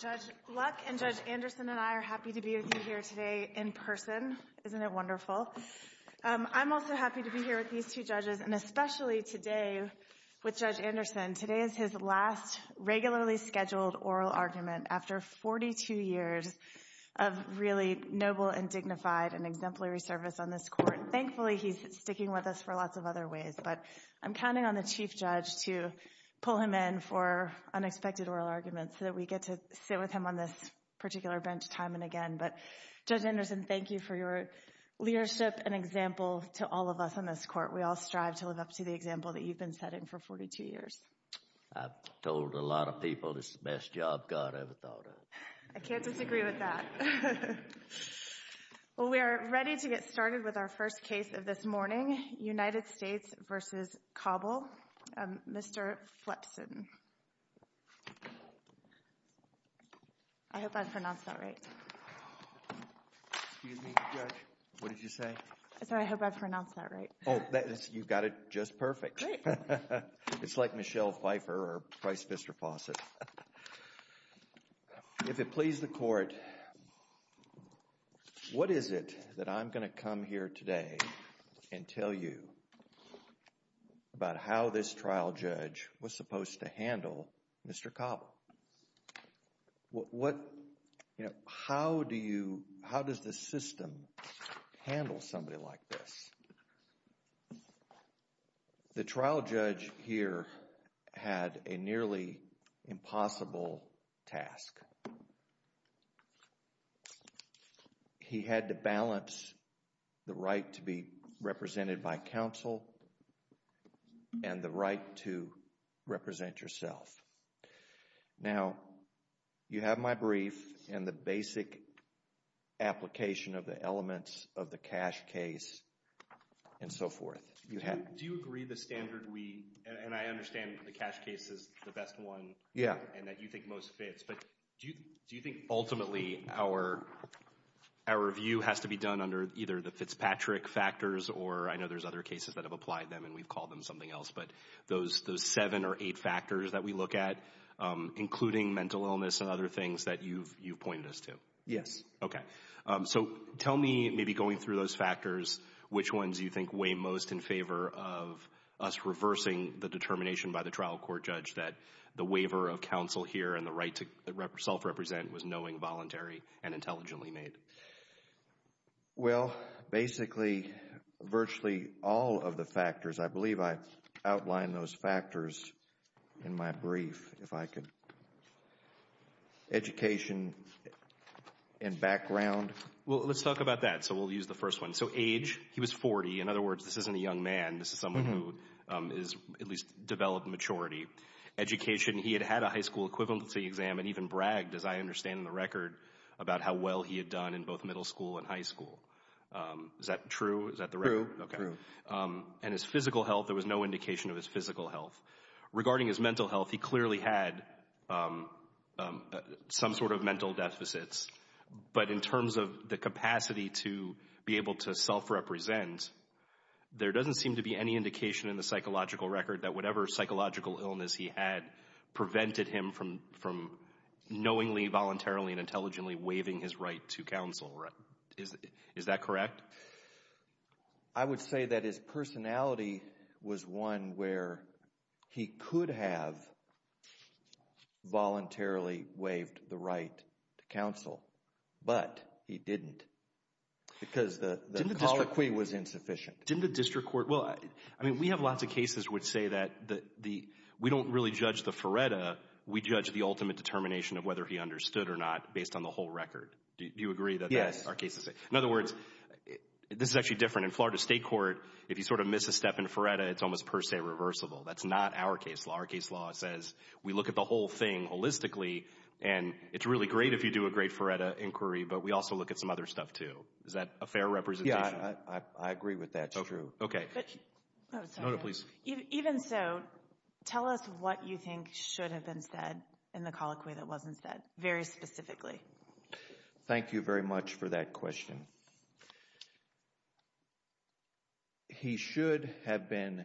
Judge Luck and Judge Anderson and I are happy to be with you here today in person. Isn't it wonderful? I'm also happy to be here with these two judges and especially today with Judge Anderson. Today is his last regularly scheduled oral argument after 42 years of really noble and dignified and exemplary service on this court. Thankfully he's sticking with us for lots of other ways, but I'm counting on the Chief Judge to pull him in for unexpected oral arguments so that we get to sit with him on this particular bench time and again, but Judge Anderson, thank you for your leadership and example to all of us on this court. We all strive to live up to the example that you've been setting for 42 years. I've told a lot of people this is the best job God ever thought of. I can't disagree with that. Well we are ready to get started with our first case of this morning, United States v. Cobble, Mr. Fletchson. I hope I pronounced that right. Excuse me, Judge, what did you say? I'm sorry, I hope I pronounced that right. Oh, you got it just perfect. It's like Michelle Pfeiffer or Price Vister Fawcett. If it please the court, what is it that I'm going to come here today and tell you about how this trial judge was supposed to handle Mr. Cobble? What, you know, how do you, how does the system handle somebody like this? The trial judge here had a nearly impossible task. He had to balance the right to be represented by counsel and the right to represent yourself. Now, you have my brief and the basic application of the elements of the cash case and so forth. Do you agree the standard we, and I understand the cash case is the best one and that you think most fits, but do you think ultimately our review has to be done under either the Fitzpatrick factors or, I know there's other cases that have applied them and we've called them something else, but those seven or eight factors that we look at, including mental illness and other things that you've pointed us to? Yes. Okay. So tell me, maybe going through those factors, which ones do you think weigh most in favor of us reversing the determination by the trial court judge that the waiver of counsel here and the right to self-represent was knowing, voluntary, and intelligently made? Well, basically virtually all of the factors. I believe I outlined those factors in my brief, if I could. Education and background. Well, let's talk about that. So we'll use the first one. So age, he was 40. In other words, this isn't a young man. This is someone who has at least developed maturity. Education, he had had a high school equivalency exam and even bragged, as I understand in the record, about how well he had done in both middle school and high school. Is that true? Is that the record? True. Okay. And his physical health, there was no indication of his physical health. Regarding his mental health, he clearly had some sort of mental deficits, but in terms of the capacity to be able to self-represent, there doesn't seem to be any indication in the psychological record that whatever psychological illness he had prevented him from knowingly, voluntarily, and intelligently waiving his right to counsel. Is that correct? I would say that his personality was one where he could have voluntarily waived the right to counsel, but he didn't because the colloquy was insufficient. Didn't the district court? Well, I mean, we have lots of cases which say that we don't really judge the FARETA. We judge the ultimate determination of whether he understood or not based on the whole record. Do you agree that that's our case? Yes. In other words, this is actually different. In Florida State Court, if you sort of miss a step in FARETA, it's almost per se reversible. That's not our case law. Our case law says we look at the whole thing holistically, and it's really great if you do a great FARETA inquiry, but we also look at some other stuff too. Is that a fair representation? Yeah, I agree with that. So true. Okay. Even so, tell us what you think should have been said in the colloquy that wasn't said very specifically. Thank you very much for that question. He should have been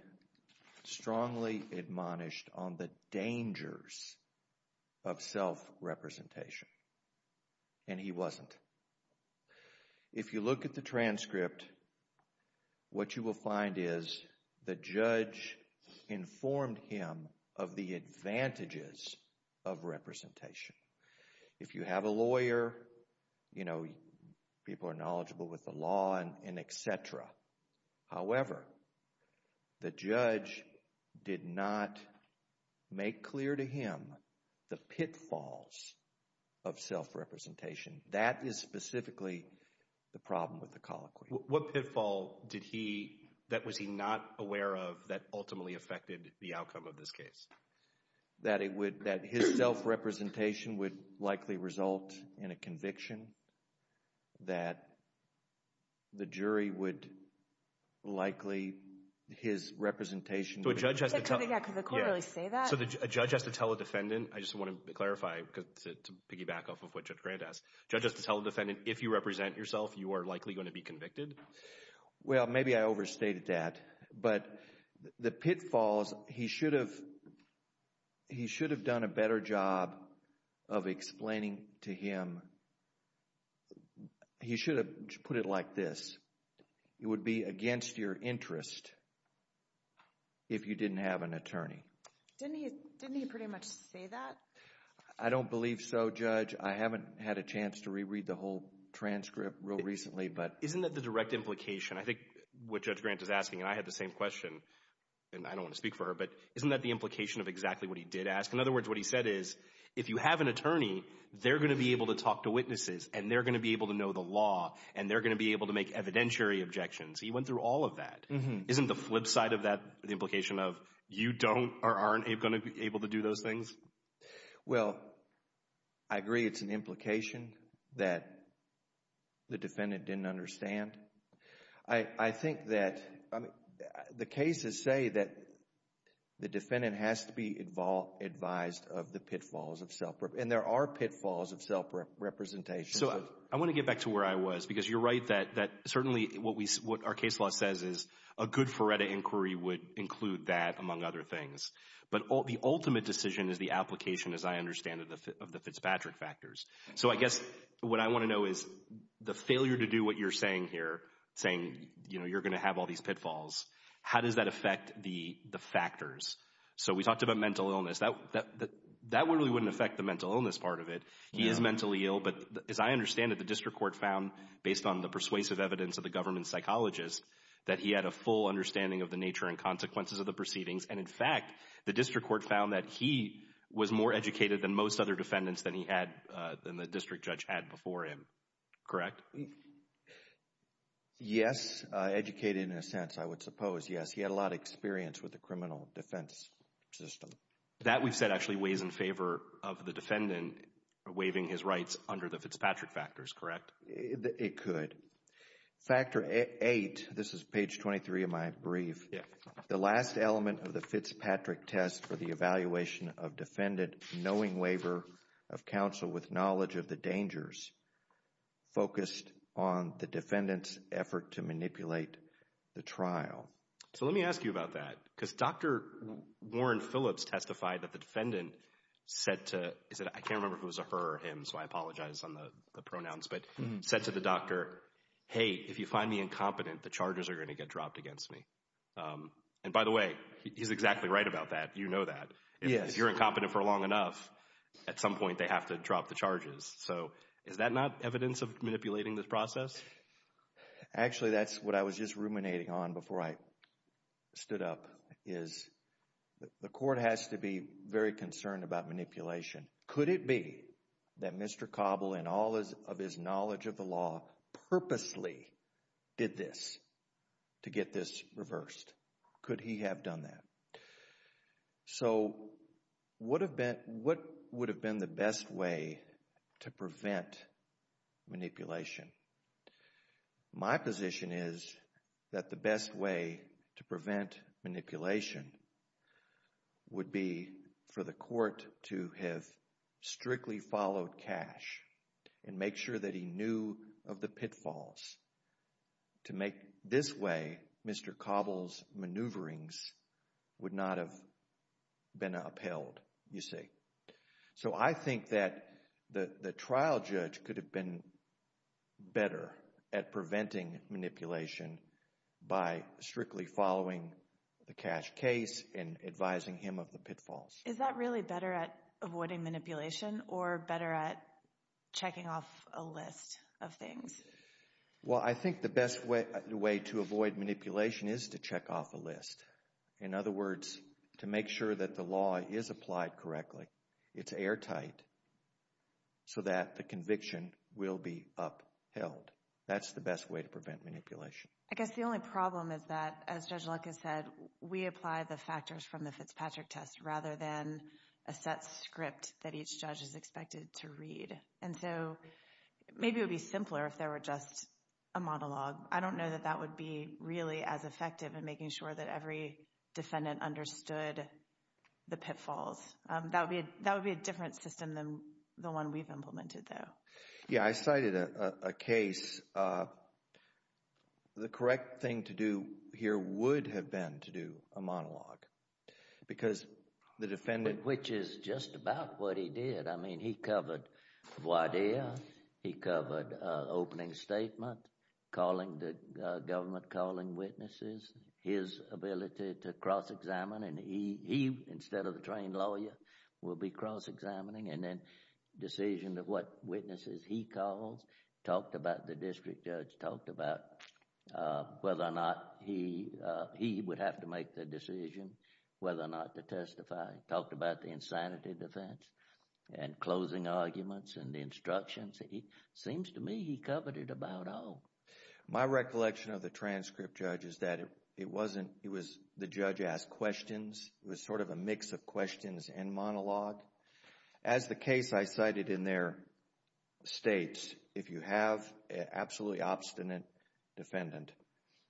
strongly admonished on the dangers of self-representation, and he wasn't. If you look at the transcript, what you will find is the judge informed him of the advantages of representation. If you have a lawyer, people are knowledgeable with the law and et cetera. However, the judge did not make clear to him the pitfalls of self-representation. That is specifically the problem with the colloquy. What pitfall did he—that was he not aware of that ultimately affected the outcome of this case? That his self-representation would likely result in a conviction. That the jury would likely—his representation would— Could the court really say that? So a judge has to tell a defendant—I just want to clarify to piggyback off of what Judge Grant asked. A judge has to tell a defendant, if you represent yourself, you are likely going to be convicted? Well, maybe I overstated that. But the pitfalls—he should have done a better job of explaining to him—he should have put it like this. It would be against your interest if you didn't have an attorney. Didn't he pretty much say that? I don't believe so, Judge. I haven't had a chance to reread the whole transcript real recently, but— Isn't that the direct implication? I think what Judge Grant is asking, and I had the same question, and I don't want to speak for her, but isn't that the implication of exactly what he did ask? In other words, what he said is, if you have an attorney, they're going to be able to talk to witnesses, and they're going to be able to know the law, and they're going to be able to make evidentiary objections. He went through all of that. Isn't the flip side of that the implication of you don't or aren't going to be able to do those things? Well, I agree it's an implication that the defendant didn't understand. I think that—the cases say that the defendant has to be advised of the pitfalls of self— and there are pitfalls of self-representation. So I want to get back to where I was, because you're right that certainly what our case law says is a good Ferretta inquiry would include that, among other things. But the ultimate decision is the application, as I understand it, of the Fitzpatrick factors. So I guess what I want to know is the failure to do what you're saying here, saying you're going to have all these pitfalls, how does that affect the factors? So we talked about mental illness. That really wouldn't affect the mental illness part of it. He is mentally ill, but as I understand it, the district court found, based on the persuasive evidence of the government psychologist, that he had a full understanding of the nature and consequences of the proceedings. And, in fact, the district court found that he was more educated than most other defendants than he had—than the district judge had before him, correct? Yes, educated in a sense, I would suppose, yes. He had a lot of experience with the criminal defense system. That, we've said, actually weighs in favor of the defendant waiving his rights under the Fitzpatrick factors, correct? It could. Factor 8, this is page 23 of my brief, the last element of the Fitzpatrick test for the evaluation of defendant knowing waiver of counsel with knowledge of the dangers focused on the defendant's effort to manipulate the trial. So let me ask you about that. Because Dr. Warren Phillips testified that the defendant said to— I can't remember if it was a her or him, so I apologize on the pronouns— but said to the doctor, hey, if you find me incompetent, the charges are going to get dropped against me. And, by the way, he's exactly right about that. You know that. If you're incompetent for long enough, at some point they have to drop the charges. So is that not evidence of manipulating this process? Actually, that's what I was just ruminating on before I stood up, is the court has to be very concerned about manipulation. Could it be that Mr. Cobble, in all of his knowledge of the law, purposely did this to get this reversed? Could he have done that? So what would have been the best way to prevent manipulation? My position is that the best way to prevent manipulation would be for the court to have strictly followed cash and make sure that he knew of the pitfalls. To make this way, Mr. Cobble's maneuverings would not have been upheld, you see. So I think that the trial judge could have been better at preventing manipulation by strictly following the cash case and advising him of the pitfalls. Is that really better at avoiding manipulation or better at checking off a list of things? Well, I think the best way to avoid manipulation is to check off a list. In other words, to make sure that the law is applied correctly, it's airtight, so that the conviction will be upheld. That's the best way to prevent manipulation. I guess the only problem is that, as Judge Luck has said, we apply the factors from the Fitzpatrick test rather than a set script that each judge is expected to read. And so maybe it would be simpler if there were just a monologue. I don't know that that would be really as effective in making sure that every defendant understood the pitfalls. That would be a different system than the one we've implemented, though. Yeah, I cited a case. The correct thing to do here would have been to do a monologue because the defendant— Which is just about what he did. I mean, he covered voir dire, he covered opening statement, calling the government, calling witnesses, his ability to cross-examine. And he, instead of the trained lawyer, will be cross-examining. And then decision of what witnesses he calls, talked about the district judge, talked about whether or not he would have to make the decision whether or not to testify, talked about the insanity defense and closing arguments and the instructions. It seems to me he covered it about all. My recollection of the transcript, Judge, is that it wasn't— it was the judge asked questions. It was sort of a mix of questions and monologue. As the case I cited in there states, if you have an absolutely obstinate defendant,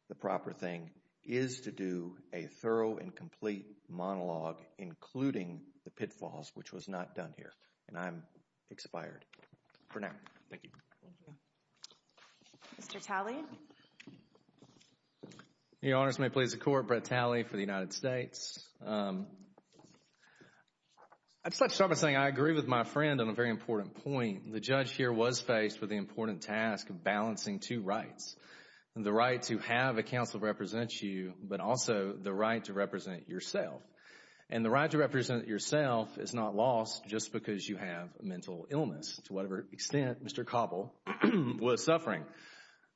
the proper thing is to do a thorough and complete monologue, including the pitfalls, which was not done here. And I'm expired for now. Thank you. Mr. Talley? Your Honors, may it please the Court, Brett Talley for the United States. I'd start by saying I agree with my friend on a very important point. The judge here was faced with the important task of balancing two rights. The right to have a counsel represent you, but also the right to represent yourself. And the right to represent yourself is not lost just because you have a mental illness, to whatever extent Mr. Cobble was suffering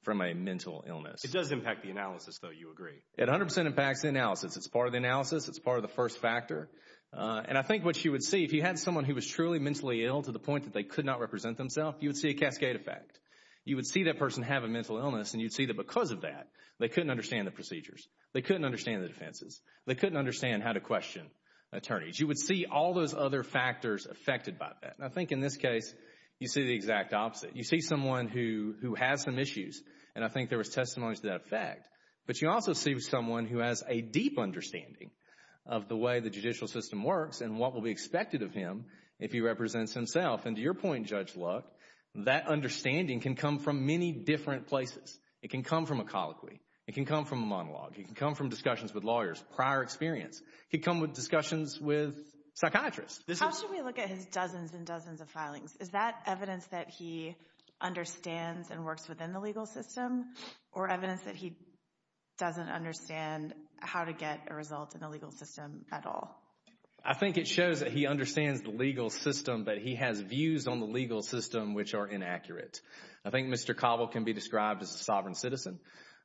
from a mental illness. It does impact the analysis, though, you agree? It 100% impacts the analysis. It's part of the analysis. It's part of the first factor. And I think what you would see, if you had someone who was truly mentally ill to the point that they could not represent themselves, you would see a cascade effect. You would see that person have a mental illness, and you'd see that because of that, they couldn't understand the procedures. They couldn't understand the defenses. They couldn't understand how to question attorneys. You would see all those other factors affected by that. And I think in this case, you see the exact opposite. You see someone who has some issues, and I think there was testimony to that effect. But you also see someone who has a deep understanding of the way the judicial system works and what will be expected of him if he represents himself. And to your point, Judge Luck, that understanding can come from many different places. It can come from a colloquy. It can come from a monologue. It can come from discussions with lawyers, prior experience. It can come from discussions with psychiatrists. How should we look at his dozens and dozens of filings? Is that evidence that he understands and works within the legal system, or evidence that he doesn't understand how to get a result in the legal system at all? I think it shows that he understands the legal system, but he has views on the legal system which are inaccurate. I think Mr. Cobble can be described as a sovereign citizen.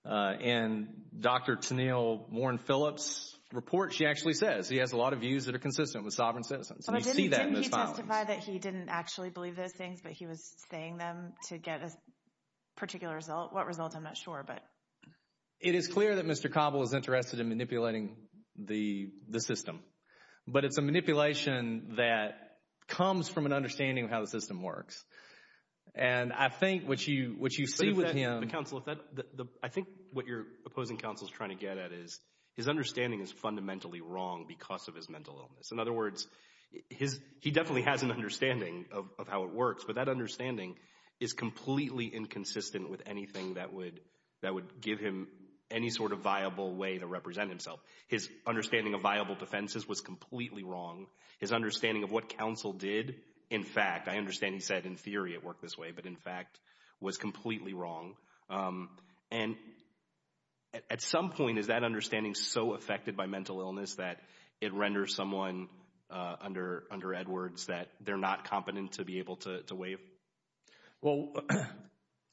In Dr. Tennille Warren Phillips' report, she actually says he has a lot of views that are consistent with sovereign citizens, and you see that in those filings. Didn't he testify that he didn't actually believe those things, but he was saying them to get a particular result? What result? I'm not sure. It is clear that Mr. Cobble is interested in manipulating the system, but it's a manipulation that comes from an understanding of how the system works. I think what you see with him— I think what your opposing counsel is trying to get at is his understanding is fundamentally wrong because of his mental illness. In other words, he definitely has an understanding of how it works, but that understanding is completely inconsistent with anything that would give him any sort of viable way to represent himself. His understanding of viable defenses was completely wrong. His understanding of what counsel did, in fact— I understand he said in theory it worked this way, but in fact was completely wrong. And at some point, is that understanding so affected by mental illness that it renders someone under Edwards that they're not competent to be able to waive? Well, let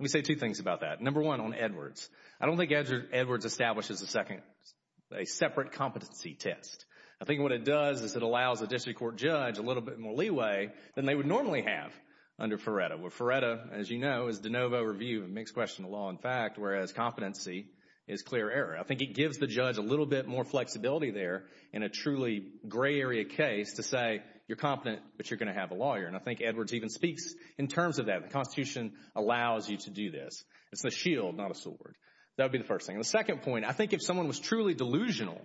me say two things about that. Number one, on Edwards. I don't think Edwards establishes a separate competency test. I think what it does is it allows a district court judge a little bit more leeway than they would normally have under Ferretta. Where Ferretta, as you know, is de novo review, a mixed question of law and fact, whereas competency is clear error. I think it gives the judge a little bit more flexibility there in a truly gray area case to say you're competent, but you're going to have a lawyer. And I think Edwards even speaks in terms of that. The Constitution allows you to do this. It's the shield, not a sword. That would be the first thing. The second point, I think if someone was truly delusional,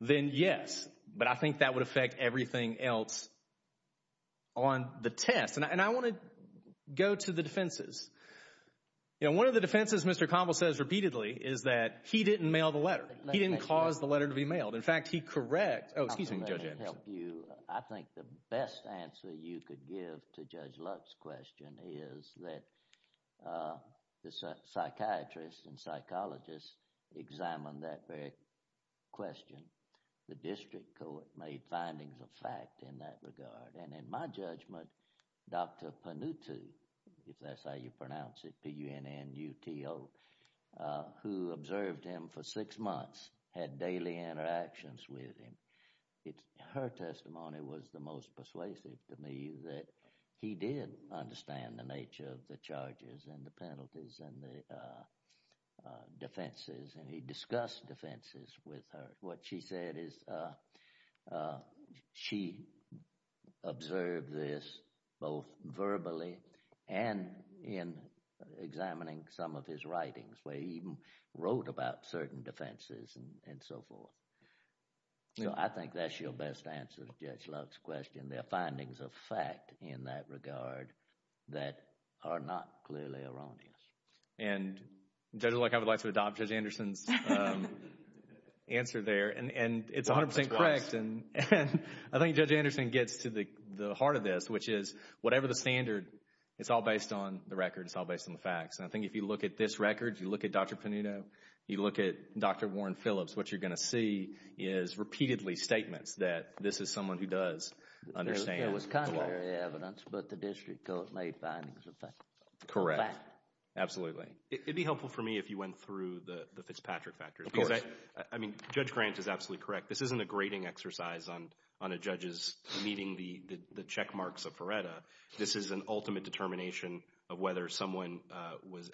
then yes. But I think that would affect everything else on the test. And I want to go to the defenses. One of the defenses Mr. Conville says repeatedly is that he didn't mail the letter. He didn't cause the letter to be mailed. In fact, he corrects—oh, excuse me, Judge Anderson. I think the best answer you could give to Judge Luck's question is that the psychiatrists and psychologists examined that very question. The district court made findings of fact in that regard. And in my judgment, Dr. Panutu, if that's how you pronounce it, P-U-N-N-U-T-O, who observed him for six months, had daily interactions with him, her testimony was the most persuasive to me that he did understand the nature of the charges and the penalties and the defenses, and he discussed defenses with her. What she said is she observed this both verbally and in examining some of his writings where he even wrote about certain defenses and so forth. I think that's your best answer to Judge Luck's question. There are findings of fact in that regard that are not clearly erroneous. And Judge Luck, I would like to adopt Judge Anderson's answer there. And it's 100% correct. And I think Judge Anderson gets to the heart of this, which is whatever the standard, it's all based on the record. It's all based on the facts. And I think if you look at this record, you look at Dr. Panuto, you look at Dr. Warren Phillips, what you're going to see is repeatedly statements that this is someone who does understand the law. There was contrary evidence, but the district court made findings of fact. Correct. Absolutely. It would be helpful for me if you went through the Fitzpatrick factors. Of course. I mean, Judge Grant is absolutely correct. This isn't a grading exercise on a judge's meeting the check marks of Feretta. This is an ultimate determination of whether someone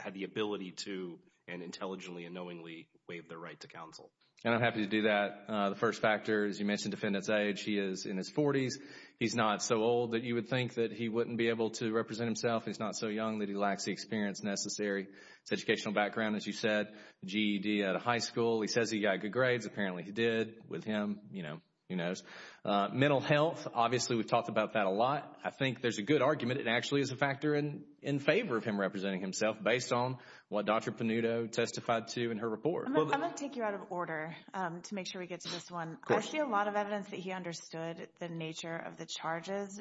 had the ability to and intelligently and knowingly waive their right to counsel. And I'm happy to do that. The first factor, as you mentioned, defendant's age. He is in his 40s. He's not so old that you would think that he wouldn't be able to represent himself. He's not so young that he lacks the experience necessary. His educational background, as you said, GED out of high school. He says he got good grades. Apparently he did with him. You know, who knows. Mental health, obviously we've talked about that a lot. I think there's a good argument. It actually is a factor in favor of him representing himself based on what Dr. Panuto testified to in her report. I'm going to take you out of order to make sure we get to this one. I see a lot of evidence that he understood the nature of the charges.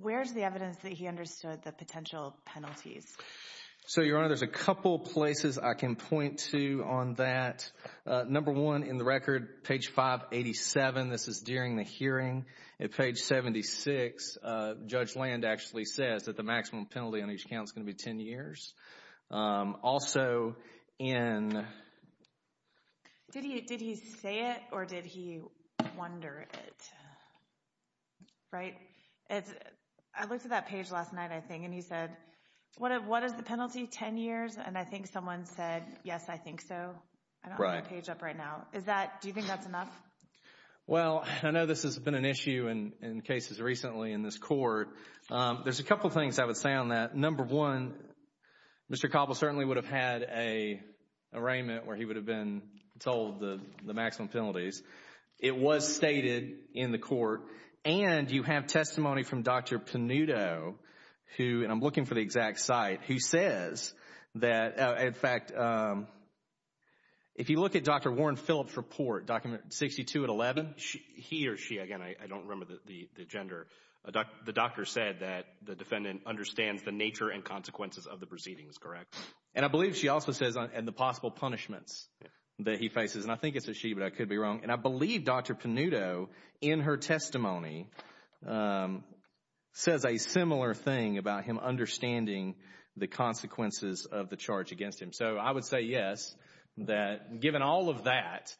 Where's the evidence that he understood the potential penalties? So, Your Honor, there's a couple places I can point to on that. Number one, in the record, page 587. This is during the hearing. At page 76, Judge Land actually says that the maximum penalty on each count is going to be ten years. Also in… Did he say it or did he wonder it? Right? I looked at that page last night, I think, and he said, what is the penalty, ten years? And I think someone said, yes, I think so. I don't have the page up right now. Do you think that's enough? Well, I know this has been an issue in cases recently in this court. There's a couple things I would say on that. Number one, Mr. Cobble certainly would have had an arraignment where he would have been told the maximum penalties. It was stated in the court, and you have testimony from Dr. Panuto, and I'm looking for the exact site, who says that, in fact, if you look at Dr. Warren Phillips' report, document 62 and 11, he or she, again, I don't remember the gender, the doctor said that the defendant understands the nature and consequences of the proceedings, correct? And I believe she also says the possible punishments that he faces. And I think it's a she, but I could be wrong. And I believe Dr. Panuto, in her testimony, says a similar thing about him understanding the consequences of the charge against him. So I would say yes, that given all of that,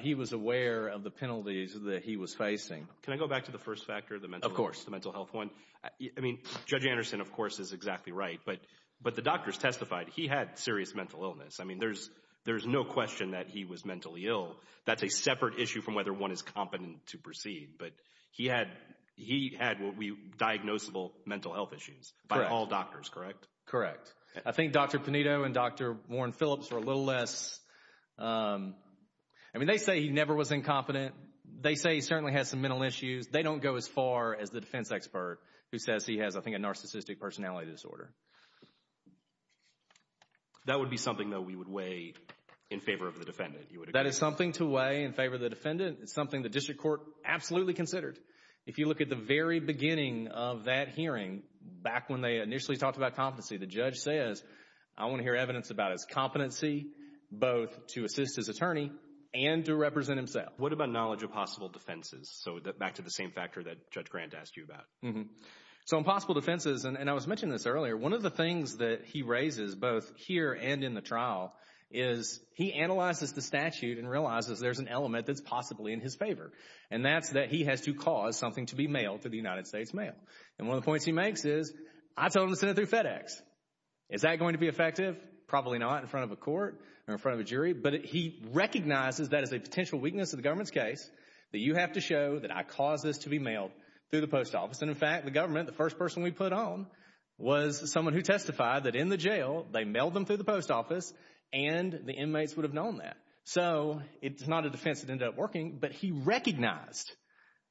he was aware of the penalties that he was facing. Can I go back to the first factor, the mental health one? Of course. I mean, Judge Anderson, of course, is exactly right, but the doctors testified he had serious mental illness. I mean, there's no question that he was mentally ill. That's a separate issue from whether one is competent to proceed, but he had what would be diagnosable mental health issues by all doctors, correct? Correct. I think Dr. Panuto and Dr. Warren Phillips were a little less. I mean, they say he never was incompetent. They say he certainly has some mental issues. They don't go as far as the defense expert who says he has, I think, a narcissistic personality disorder. That would be something, though, we would weigh in favor of the defendant. That is something to weigh in favor of the defendant. It's something the district court absolutely considered. If you look at the very beginning of that hearing, back when they initially talked about competency, the judge says, I want to hear evidence about his competency, both to assist his attorney and to represent himself. What about knowledge of possible defenses? So back to the same factor that Judge Grant asked you about. So on possible defenses, and I was mentioning this earlier, one of the things that he raises both here and in the trial is he analyzes the statute and realizes there's an element that's possibly in his favor, and that's that he has to cause something to be mailed to the United States Mail. And one of the points he makes is, I told him to send it through FedEx. Is that going to be effective? Probably not in front of a court or in front of a jury. But he recognizes that as a potential weakness of the government's case, that you have to show that I caused this to be mailed through the post office. And, in fact, the government, the first person we put on, was someone who testified that in the jail, they mailed them through the post office, and the inmates would have known that. So it's not a defense that ended up working, but he recognized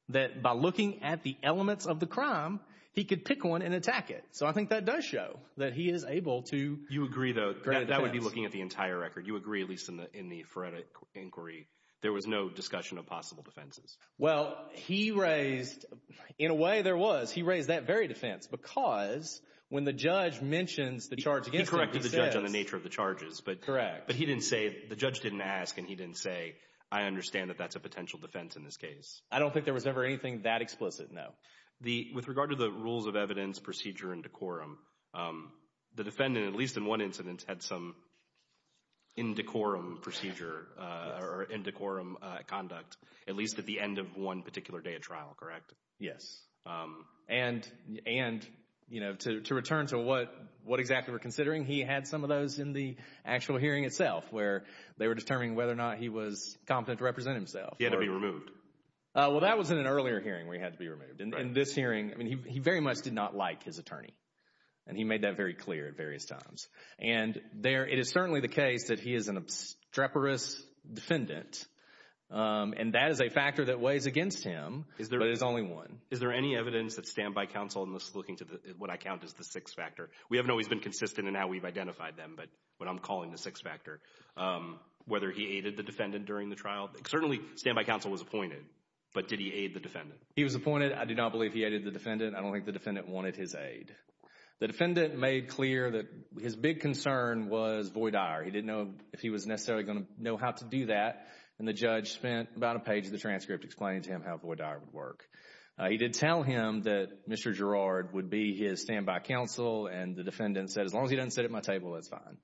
that by looking at the elements of the crime, he could pick one and attack it. So I think that does show that he is able to create a defense. You agree, though. That would be looking at the entire record. You agree, at least in the Frederick inquiry, there was no discussion of possible defenses. Well, he raised, in a way there was, he raised that very defense, because when the judge mentions the charge against him. He corrected the judge on the nature of the charges. Correct. But he didn't say, the judge didn't ask, and he didn't say, I understand that that's a potential defense in this case. I don't think there was ever anything that explicit, no. With regard to the rules of evidence, procedure, and decorum, the defendant, at least in one incident, had some in decorum procedure or in decorum conduct, at least at the end of one particular day of trial, correct? Yes. And, you know, to return to what exactly we're considering, he had some of those in the actual hearing itself, where they were determining whether or not he was competent to represent himself. He had to be removed. Well, that was in an earlier hearing where he had to be removed. In this hearing, I mean, he very much did not like his attorney, and he made that very clear at various times. And it is certainly the case that he is an obstreperous defendant, and that is a factor that weighs against him, but is only one. Is there any evidence that standby counsel, and this is looking to what I count as the sixth factor, we haven't always been consistent in how we've identified them, but what I'm calling the sixth factor, whether he aided the defendant during the trial? Certainly standby counsel was appointed, but did he aid the defendant? He was appointed. I do not believe he aided the defendant. I don't think the defendant wanted his aid. The defendant made clear that his big concern was Voight-Dyer. He didn't know if he was necessarily going to know how to do that, and the judge spent about a page of the transcript explaining to him how Voight-Dyer would work. He did tell him that Mr. Girard would be his standby counsel, and the defendant said, as long as he doesn't sit at my table, that's fine.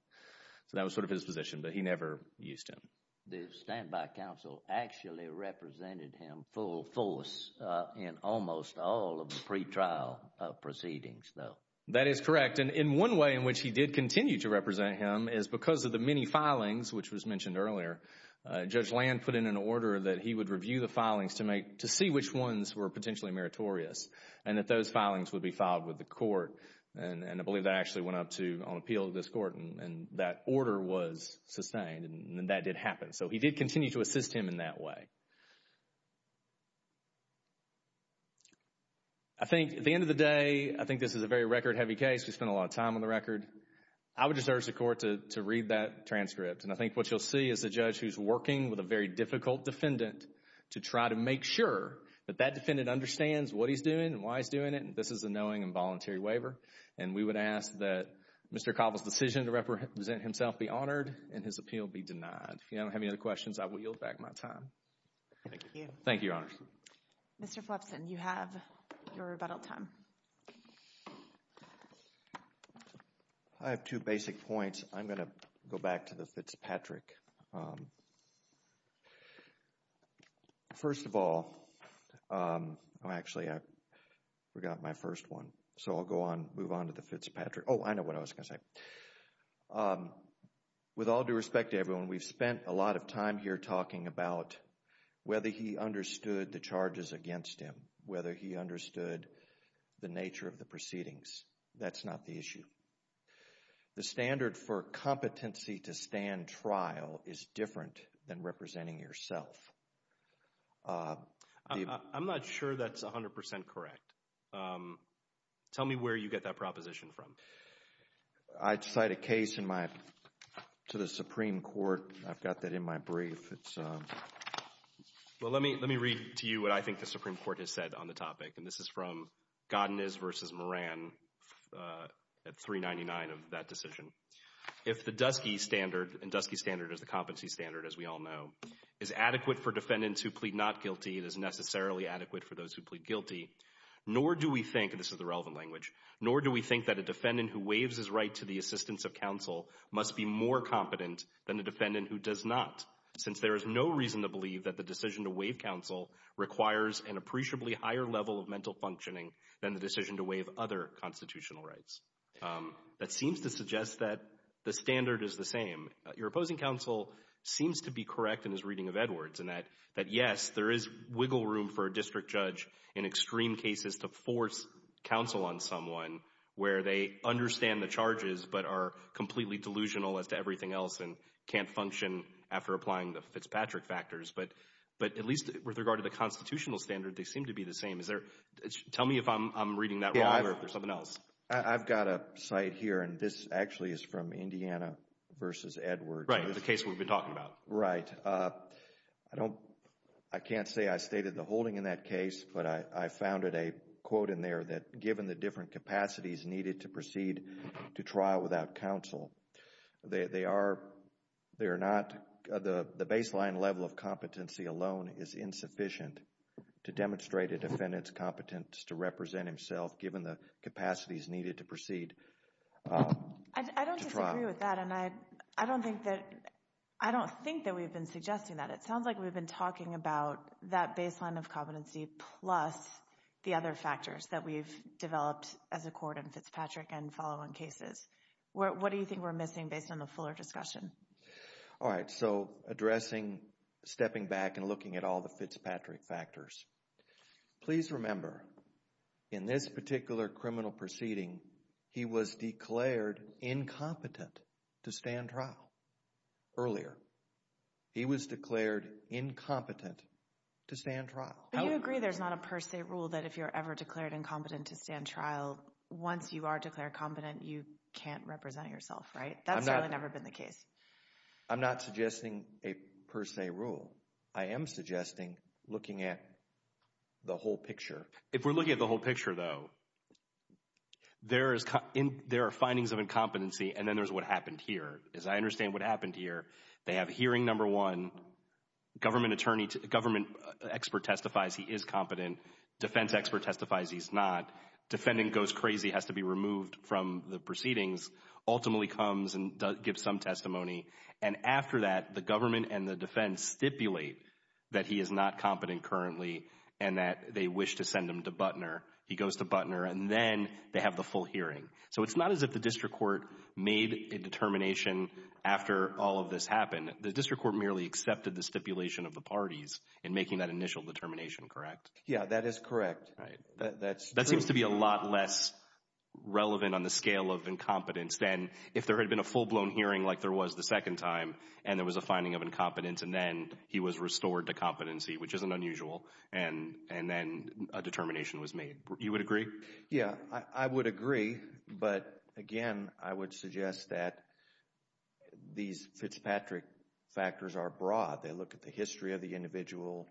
So that was sort of his position, but he never used him. The standby counsel actually represented him full force in almost all of the pretrial proceedings, though. That is correct, and one way in which he did continue to represent him is because of the many filings, which was mentioned earlier. Judge Land put in an order that he would review the filings to see which ones were potentially meritorious, and that those filings would be filed with the court, and I believe that actually went up on appeal to this court, and that order was sustained, and that did happen. So he did continue to assist him in that way. I think at the end of the day, I think this is a very record-heavy case. We spent a lot of time on the record. I would urge the court to read that transcript, and I think what you'll see is a judge who's working with a very difficult defendant to try to make sure that that defendant understands what he's doing and why he's doing it, and this is a knowing and voluntary waiver, and we would ask that Mr. Cobble's decision to represent himself be honored and his appeal be denied. If you don't have any other questions, I will yield back my time. Thank you. Thank you, Your Honor. Mr. Flipson, you have your rebuttal time. I have two basic points. I'm going to go back to the Fitzpatrick. First of all, actually I forgot my first one, so I'll move on to the Fitzpatrick. Oh, I know what I was going to say. With all due respect to everyone, we've spent a lot of time here talking about whether he understood the charges against him, whether he understood the nature of the proceedings. That's not the issue. The standard for competency to stand trial is different than representing yourself. I'm not sure that's 100% correct. Tell me where you get that proposition from. I cite a case to the Supreme Court. I've got that in my brief. Well, let me read to you what I think the Supreme Court has said on the topic, and this is from Godinez v. Moran at 399 of that decision. If the DUSCIE standard, and DUSCIE standard is the competency standard, as we all know, is adequate for defendants who plead not guilty, it is necessarily adequate for those who plead guilty, nor do we think, and this is the relevant language, nor do we think that a defendant who waives his right to the assistance of counsel must be more competent than a defendant who does not, since there is no reason to believe that the decision to waive counsel requires an appreciably higher level of mental functioning than the decision to waive other constitutional rights. That seems to suggest that the standard is the same. Your opposing counsel seems to be correct in his reading of Edwards in that, yes, there is wiggle room for a district judge in extreme cases to force counsel on someone where they understand the charges but are completely delusional as to everything else and can't function after applying the Fitzpatrick factors. But at least with regard to the constitutional standard, they seem to be the same. Tell me if I'm reading that wrong or if there's something else. I've got a site here, and this actually is from Indiana versus Edwards. Right, the case we've been talking about. Right. I can't say I stated the holding in that case, but I found a quote in there that given the different capacities needed to proceed to trial without counsel, the baseline level of competency alone is insufficient to demonstrate a defendant's competence to represent himself given the capacities needed to proceed to trial. I don't disagree with that, and I don't think that we've been suggesting that. It sounds like we've been talking about that baseline of competency plus the other factors that we've developed as a court in Fitzpatrick and following cases. What do you think we're missing based on the fuller discussion? All right, so addressing, stepping back and looking at all the Fitzpatrick factors. Please remember, in this particular criminal proceeding, he was declared incompetent to stand trial earlier. He was declared incompetent to stand trial. But you agree there's not a per se rule that if you're ever declared incompetent to stand trial, once you are declared competent, you can't represent yourself, right? That's really never been the case. I'm not suggesting a per se rule. I am suggesting looking at the whole picture. If we're looking at the whole picture, though, there are findings of incompetency, and then there's what happened here. As I understand what happened here, they have hearing number one, government expert testifies he is competent. Defense expert testifies he's not. Defendant goes crazy, has to be removed from the proceedings, ultimately comes and gives some testimony. And after that, the government and the defense stipulate that he is not competent currently and that they wish to send him to Butner. He goes to Butner and then they have the full hearing. So it's not as if the district court made a determination after all of this happened. The district court merely accepted the stipulation of the parties in making that initial determination, correct? Yeah, that is correct. That seems to be a lot less relevant on the scale of incompetence than if there had been a full-blown hearing like there was the second time and there was a finding of incompetence, and then he was restored to competency, which isn't unusual, and then a determination was made. You would agree? Yeah, I would agree. But, again, I would suggest that these Fitzpatrick factors are broad. They look at the history of the individual,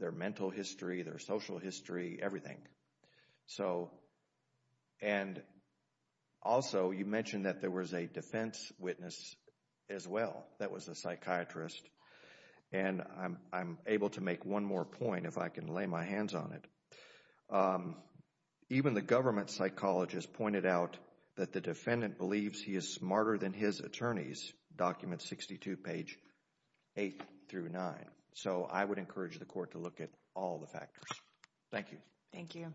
their mental history, their social history, everything. And also you mentioned that there was a defense witness as well. That was a psychiatrist. And I'm able to make one more point if I can lay my hands on it. Even the government psychologist pointed out that the defendant believes he is smarter than his attorneys, documents 62, page 8 through 9. So I would encourage the court to look at all the factors. Thank you. Thank you.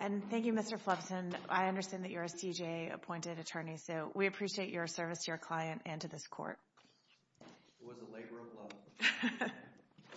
And thank you, Mr. Flipson. I understand that you're a CJA-appointed attorney, so we appreciate your service to your client and to this court. It was a labor of love.